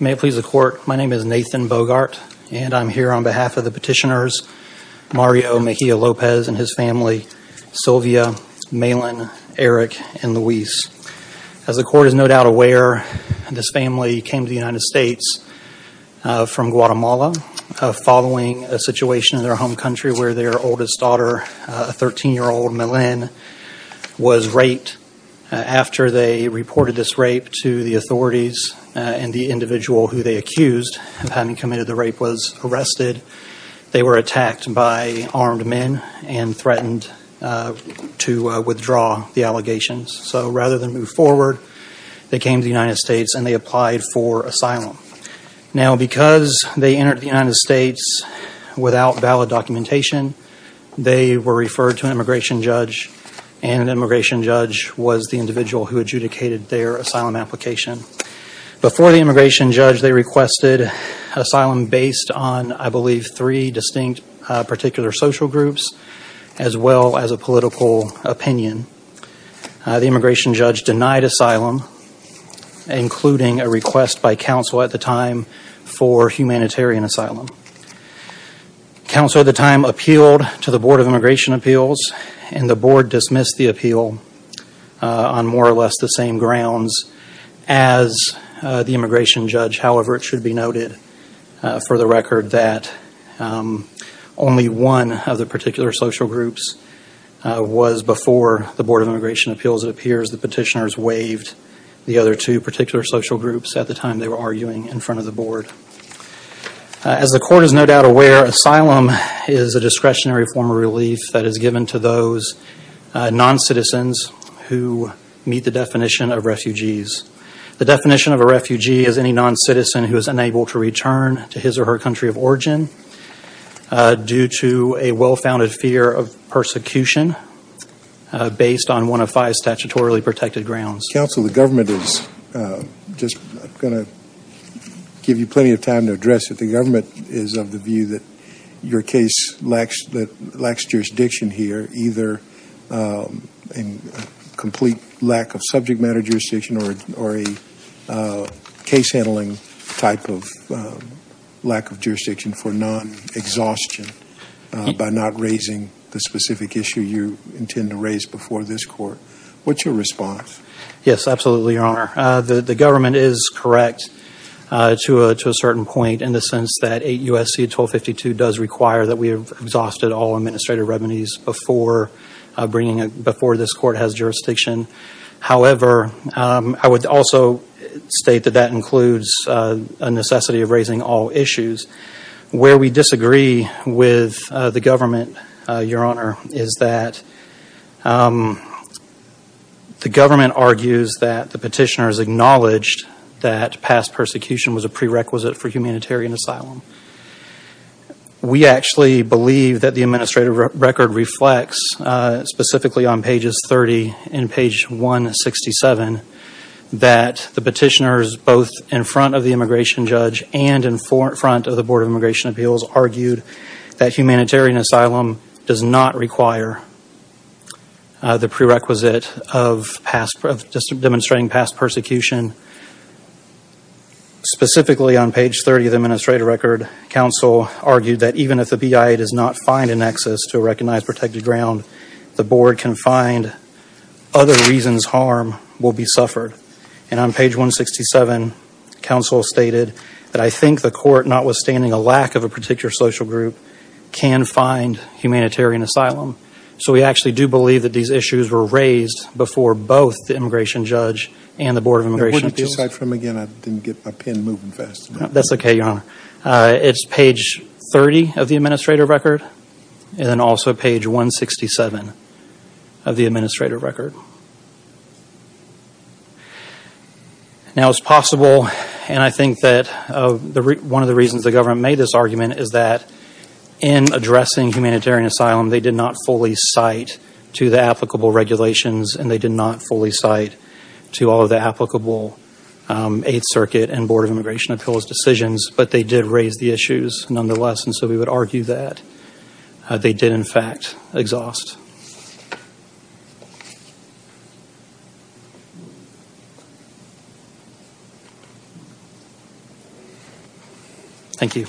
May it please the court, my name is Nathan Bogart and I'm here on behalf of the petitioners Mario Mejia-Lopez and his family, Sylvia, Malin, Eric, and Luis. As the court is no doubt aware, this family came to the United States from Guatemala following a situation in their home country where their oldest daughter, 13-year-old Malin, was raped. After they reported this rape to the authorities and the individual who they accused of having committed the rape was arrested, they were attacked by armed men and threatened to withdraw the allegations. So rather than move forward, they came to the United States and they applied for asylum. Now because they entered the United States without valid documentation, they were referred to an immigration judge and the immigration judge was the individual who adjudicated their asylum application. Before the immigration judge, they requested asylum based on, I believe, three distinct particular social groups as well as a political opinion. The immigration judge made a request by counsel at the time for humanitarian asylum. Counsel at the time appealed to the Board of Immigration Appeals and the board dismissed the appeal on more or less the same grounds as the immigration judge. However, it should be noted for the record that only one of the particular social groups was before the Board of Immigration Appeals at the time they were arguing in front of the board. As the court is no doubt aware, asylum is a discretionary form of relief that is given to those non-citizens who meet the definition of refugees. The definition of a refugee is any non-citizen who is unable to return to his or her country of origin due to a well-founded fear of persecution based on one of five statutorily protected grounds. Counsel, the government is just going to give you plenty of time to address it. The government is of the view that your case lacks jurisdiction here, either in complete lack of subject matter jurisdiction or a case handling type of lack of jurisdiction for non-exhaustion by not raising the specific issue you intend to raise before this court. What's your response? Yes, absolutely, Your Honor. The government is correct to a certain point in the sense that 8 U.S.C. 1252 does require that we have exhausted all administrative remedies before this court has jurisdiction. However, I would also state that that includes a necessity of raising all issues. Where we disagree with the government, Your Honor, is that the government argues that the petitioners acknowledged that past persecution was a prerequisite for humanitarian asylum. We actually believe that the administrative record reflects, specifically on pages 30 and page 167, that the petitioners both in front of the immigration judge and in front of the Board of Immigration Appeals argued that humanitarian asylum does not require the prerequisite of demonstrating past persecution. Specifically on page 30 of the administrative record, counsel argued that even if the BIA does not find an access to a recognized protected ground, the board can find other reasons harm will be suffered. And on page 167, counsel stated that I think the court, notwithstanding a lack of a particular social group, can find humanitarian asylum. So we actually do believe that these issues were raised before both the immigration judge and the Board of Immigration Appeals. Would you recite from again? I didn't get my pen moving fast enough. That's okay, Your Honor. It's page 30 of the administrative record and also page 167 of the administrative record. Now it's possible, and I think that one of the reasons the government made this argument is that in addressing humanitarian asylum, they did not fully cite to the applicable regulations and they did not fully cite to all of the applicable Eighth Circuit and Board of Immigration Appeals decisions, but they did raise the issues nonetheless. And so we would argue that they did in fact exhaust. Thank you.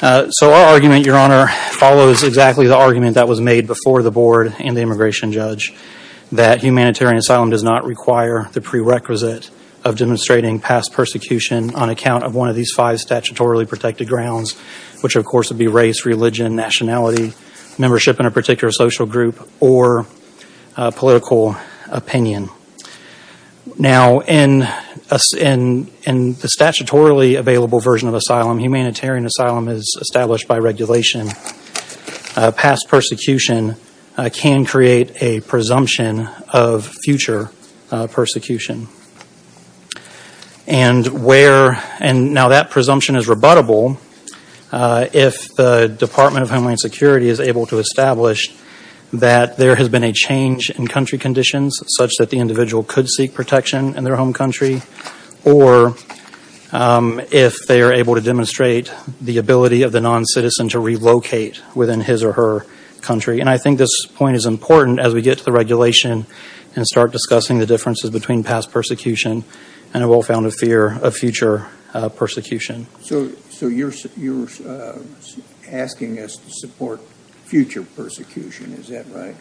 So our argument, Your Honor, follows exactly the argument that was made before the board and the immigration judge that humanitarian asylum does not require the prerequisite of demonstrating past persecution on account of one of these five statutorily protected grounds, which of course would be race, religion, nationality, membership in a particular social group, or political opinion. Now in the statutorily available version of asylum, humanitarian asylum is established by regulation. Past future persecution. And where, and now that presumption is rebuttable if the Department of Homeland Security is able to establish that there has been a change in country conditions such that the individual could seek protection in their home country or if they are able to demonstrate the ability of the non-citizen to relocate within his or her country. And I think this point is important as we get to the regulation and start discussing the differences between past persecution and a well-founded fear of future persecution. So you're asking us to support future persecution, is that right?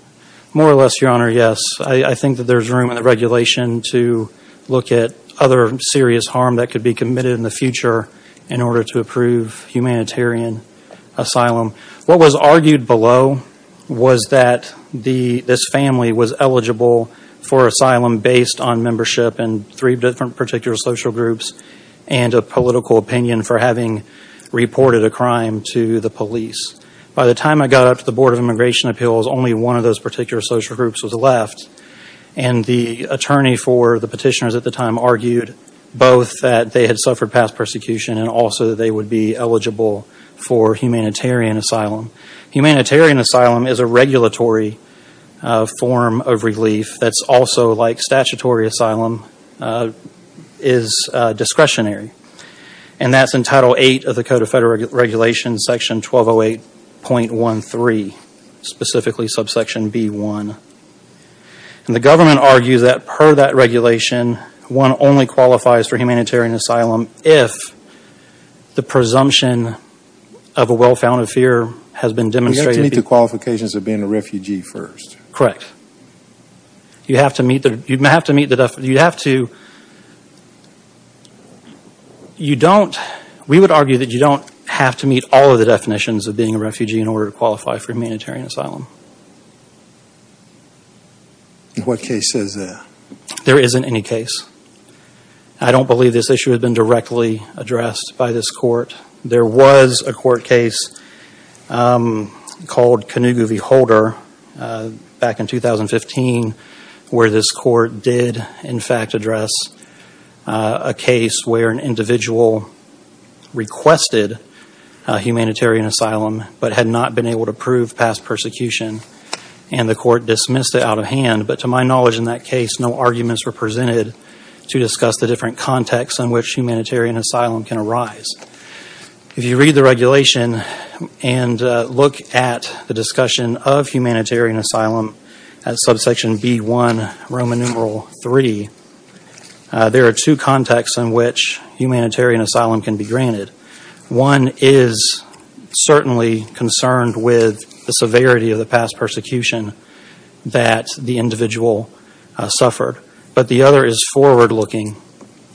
More or less, Your Honor, yes. I think that there's room in the regulation to look at other serious harm that could be was that this family was eligible for asylum based on membership in three different particular social groups and a political opinion for having reported a crime to the police. By the time I got up to the Board of Immigration Appeals, only one of those particular social groups was left. And the attorney for the petitioners at the time argued both that they had suffered past persecution and also that they would be eligible for humanitarian asylum. Humanitarian asylum is a regulatory form of relief that's also like statutory asylum is discretionary. And that's in Title VIII of the Code of Federal Regulations, Section 1208.13, specifically subsection B1. And the government argues that per that regulation, one only qualifies for humanitarian asylum if the presumption of a well-founded fear has been demonstrated. You have to meet the qualifications of being a refugee first. Correct. We would argue that you don't have to meet all of the definitions of being a refugee in order to qualify for humanitarian asylum. What case says that? There isn't any case. I don't believe this issue has been directly addressed by this court. There was a court case called Canoogoo v. Holder back in 2015 where this court did in fact address a case where an individual requested humanitarian asylum but had not been able to prove past persecution and the court dismissed it out of hand. But to my knowledge in that case, no arguments were presented to discuss the different contexts in which humanitarian asylum can arise. If you read the regulation and look at the discussion of humanitarian asylum at subsection B1, Roman numeral III, there are two contexts in which humanitarian asylum can be granted. One is certainly concerned with the severity of the past persecution that the individual suffered. But the other is forward-looking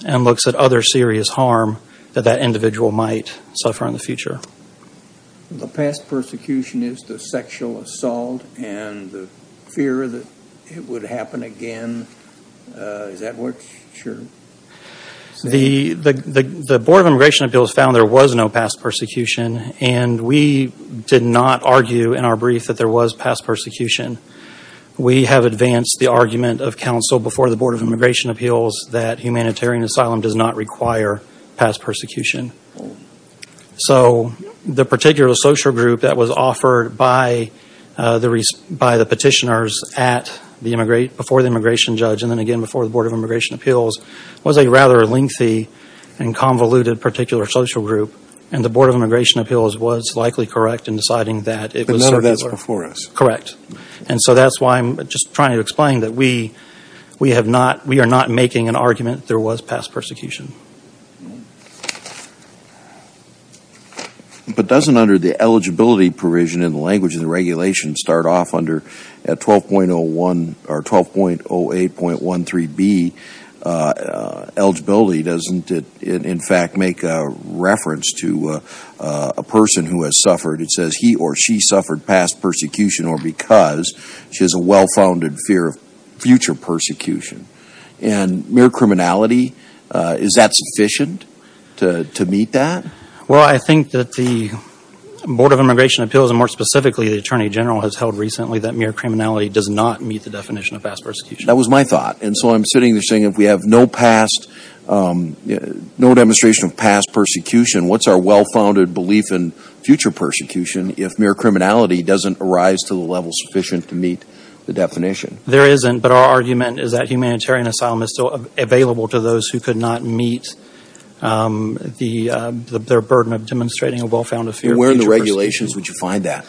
and looks at other serious harm that that individual might suffer in the future. The past persecution is the sexual assault and the fear that it would happen again. Is that what you're saying? The Board of Immigration Appeals found there was no past persecution and we did not argue in our brief that there was past persecution. We have advanced the argument of counsel before the Board of Immigration Appeals that humanitarian asylum does not require past persecution. So the particular social group that was offered by the petitioners before the immigration judge and then again before the Board of Immigration Appeals was a rather lengthy and convoluted particular social group and the Board of Immigration Appeals was likely correct in deciding that it was circular. But none of that is before us. Correct. And so that's why I'm just trying to explain that we have not, we are not making an argument that there was past persecution. But doesn't under the eligibility provision in the language of the regulation start off under 12.01 or 12.08.13B, eligibility doesn't in fact make a reference to a person who has past persecution or because she has a well-founded fear of future persecution. And mere criminality, is that sufficient to meet that? Well I think that the Board of Immigration Appeals and more specifically the Attorney General has held recently that mere criminality does not meet the definition of past persecution. That was my thought. And so I'm sitting there saying if we have no past, no demonstration of past persecution, what's our well-founded belief in future persecution if mere criminality doesn't arise to the level sufficient to meet the definition? There isn't, but our argument is that humanitarian asylum is still available to those who could not meet their burden of demonstrating a well-founded fear of future persecution. And where in the regulations would you find that?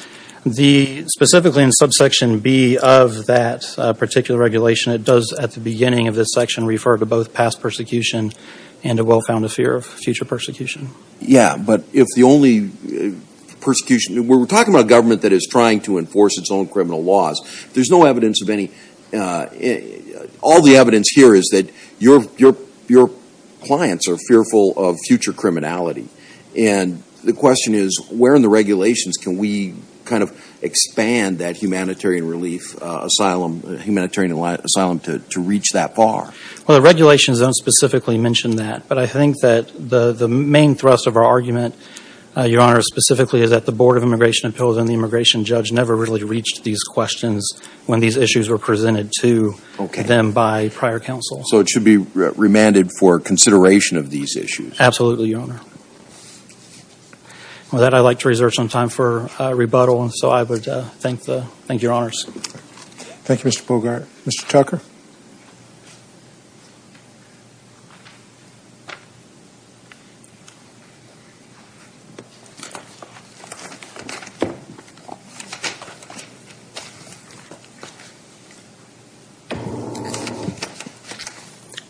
Specifically in subsection B of that particular regulation, it does at the beginning of this section refer to both past persecution and a well-founded fear of future persecution. Yeah, but if the only persecution, we're talking about a government that is trying to enforce its own criminal laws. There's no evidence of any, all the evidence here is that your clients are fearful of future criminality. And the question is where in the regulations can we kind of expand that humanitarian relief asylum, humanitarian asylum to reach that far? Well, the regulations don't specifically mention that, but I think that the main thrust of our argument, your honor, specifically is that the Board of Immigration Appeals and the immigration judge never really reached these questions when these issues were presented to them by prior counsel. So it should be remanded for consideration of these issues? Absolutely, your honor. With that, I'd like to reserve some time for rebuttal. And so I would thank the, thank your honors. Thank you, Mr. Bogart. Mr. Tucker?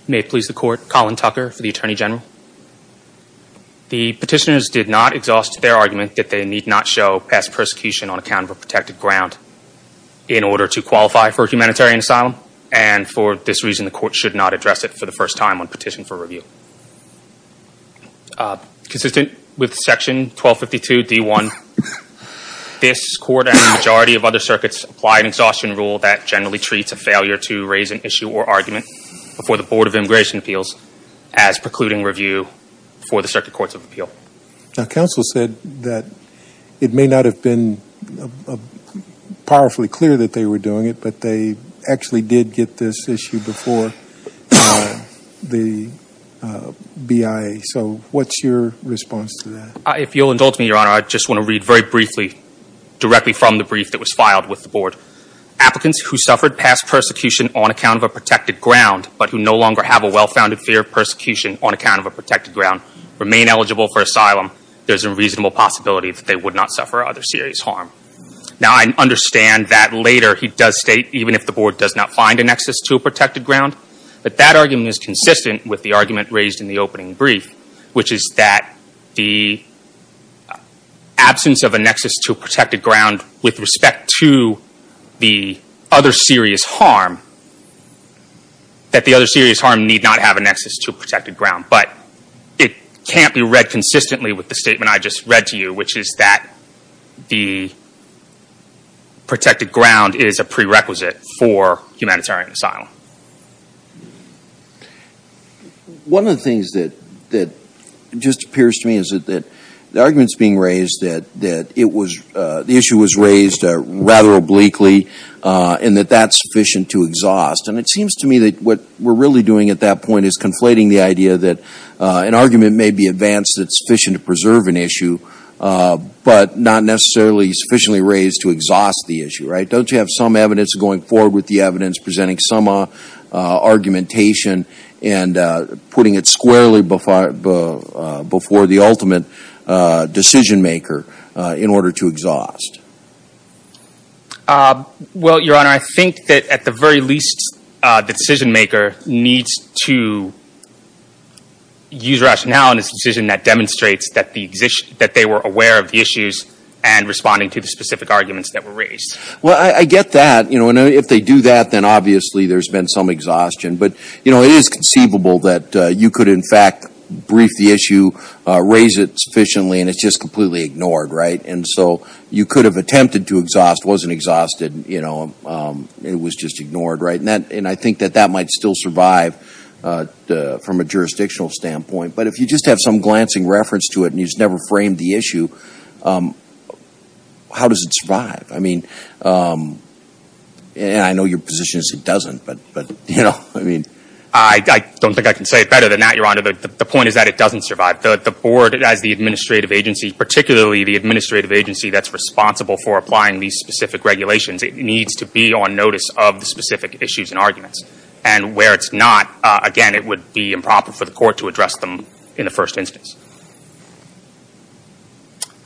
May it please the court, Colin Tucker for the Attorney General. The petitioners did not exhaust their argument that they need not show past persecution on account of a in order to qualify for humanitarian asylum. And for this reason, the court should not address it for the first time on petition for review. Consistent with section 1252 D1, this court and the majority of other circuits apply an exhaustion rule that generally treats a failure to raise an issue or argument before the Board of Immigration Appeals as precluding review for the circuit courts of appeal. Now, counsel said that it may not have been powerfully clear that they were doing it, but they actually did get this issue before the BIA. So what's your response to that? If you'll indulge me, your honor, I just want to read very briefly, directly from the brief that was filed with the board. Applicants who suffered past persecution on account of a protected ground, but who no longer have a well-founded fear of persecution on account of a protected ground, remain eligible for asylum, there's a reasonable possibility that they would not suffer other serious harm. Now, I understand that later he does state, even if the board does not find a nexus to a protected ground, that that argument is consistent with the argument raised in the opening brief, which is that the absence of a nexus to a protected ground with respect to the other serious harm, that the other serious harm, it can't be read consistently with the statement I just read to you, which is that the protected ground is a prerequisite for humanitarian asylum. One of the things that just appears to me is that the argument's being raised that it was, the issue was raised rather obliquely, and that that's sufficient to exhaust. And it seems to me that what we're really doing at that point is conflating the idea that an argument may be advanced that's sufficient to preserve an issue, but not necessarily sufficiently raised to exhaust the issue, right? Don't you have some evidence going forward with the evidence presenting some argumentation and putting it squarely before the ultimate decision maker in order to exhaust? Well, Your Honor, I think that at the very least, the decision maker needs to use rationale in his decision that demonstrates that the, that they were aware of the issues and responding to the specific arguments that were raised. Well, I get that. You know, and if they do that, then obviously there's been some exhaustion. But you know, it is conceivable that you could, in fact, brief the issue, raise it sufficiently, and it's just completely ignored, right? And so you could have attempted to exhaust, wasn't exhausted, you know, it was just ignored, right? And that, and I think that that might still survive from a jurisdictional standpoint. But if you just have some glancing reference to it and you just never framed the issue, how does it survive? I mean, and I know your position is it doesn't, but you know, I mean. I don't think I can say it better than that, Your Honor. The point is that it doesn't survive. The board as the administrative agency, particularly the administrative agency that's responsible for applying these specific regulations, it needs to be on notice of the specific issues and arguments. And where it's not, again, it would be improper for the court to address them in the first instance.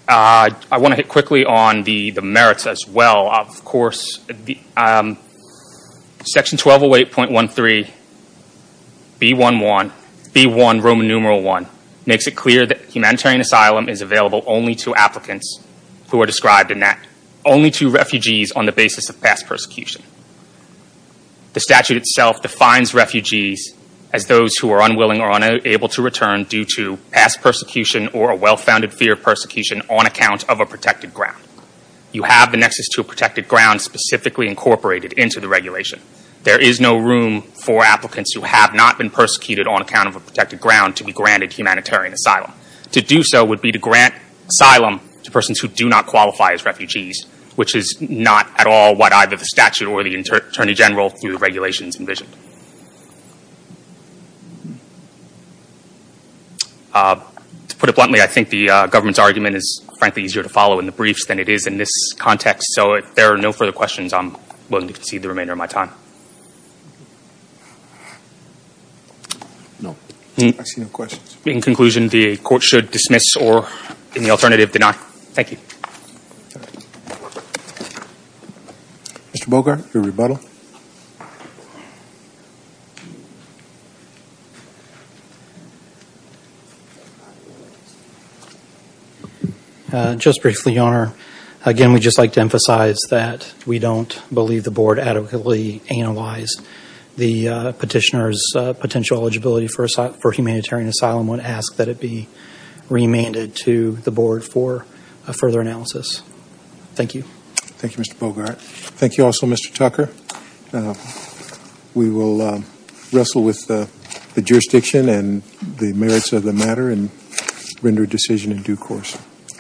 I want to hit quickly on the merits as well. Of course, Section 1208.13, B1, Roman numeral 1, makes it clear that humanitarian asylum is available only to applicants who are described in that, only to refugees on the basis of past persecution. The statute itself defines refugees as those who are unwilling or unable to return due to past persecution or a well-founded fear of persecution on account of a protected ground. You have the nexus to a protected ground specifically incorporated into the regulation. There is no room for applicants who have not been persecuted on account of a protected ground to be granted humanitarian asylum. To do so would be to grant asylum to persons who do not qualify as refugees, which is not at all what either the statute or the Attorney General through the regulations envisioned. To put it bluntly, I think the government's argument is frankly easier to follow in the briefs than it is in this context. So if there are no further questions, I'm willing to concede the remainder of my time. In conclusion, the Court should dismiss or, in the alternative, deny. Thank you. Mr. Bogart, your rebuttal. Just briefly, Your Honor. Again, we'd just like to emphasize that we don't believe the Board adequately analyzed the petitioner's potential eligibility for humanitarian asylum would ask that it be remanded to the Board for further analysis. Thank you. Thank you, Mr. Bogart. Thank you also, Mr. Tucker. We will wrestle with the jurisdiction and the merits of the matter and render a decision in due course.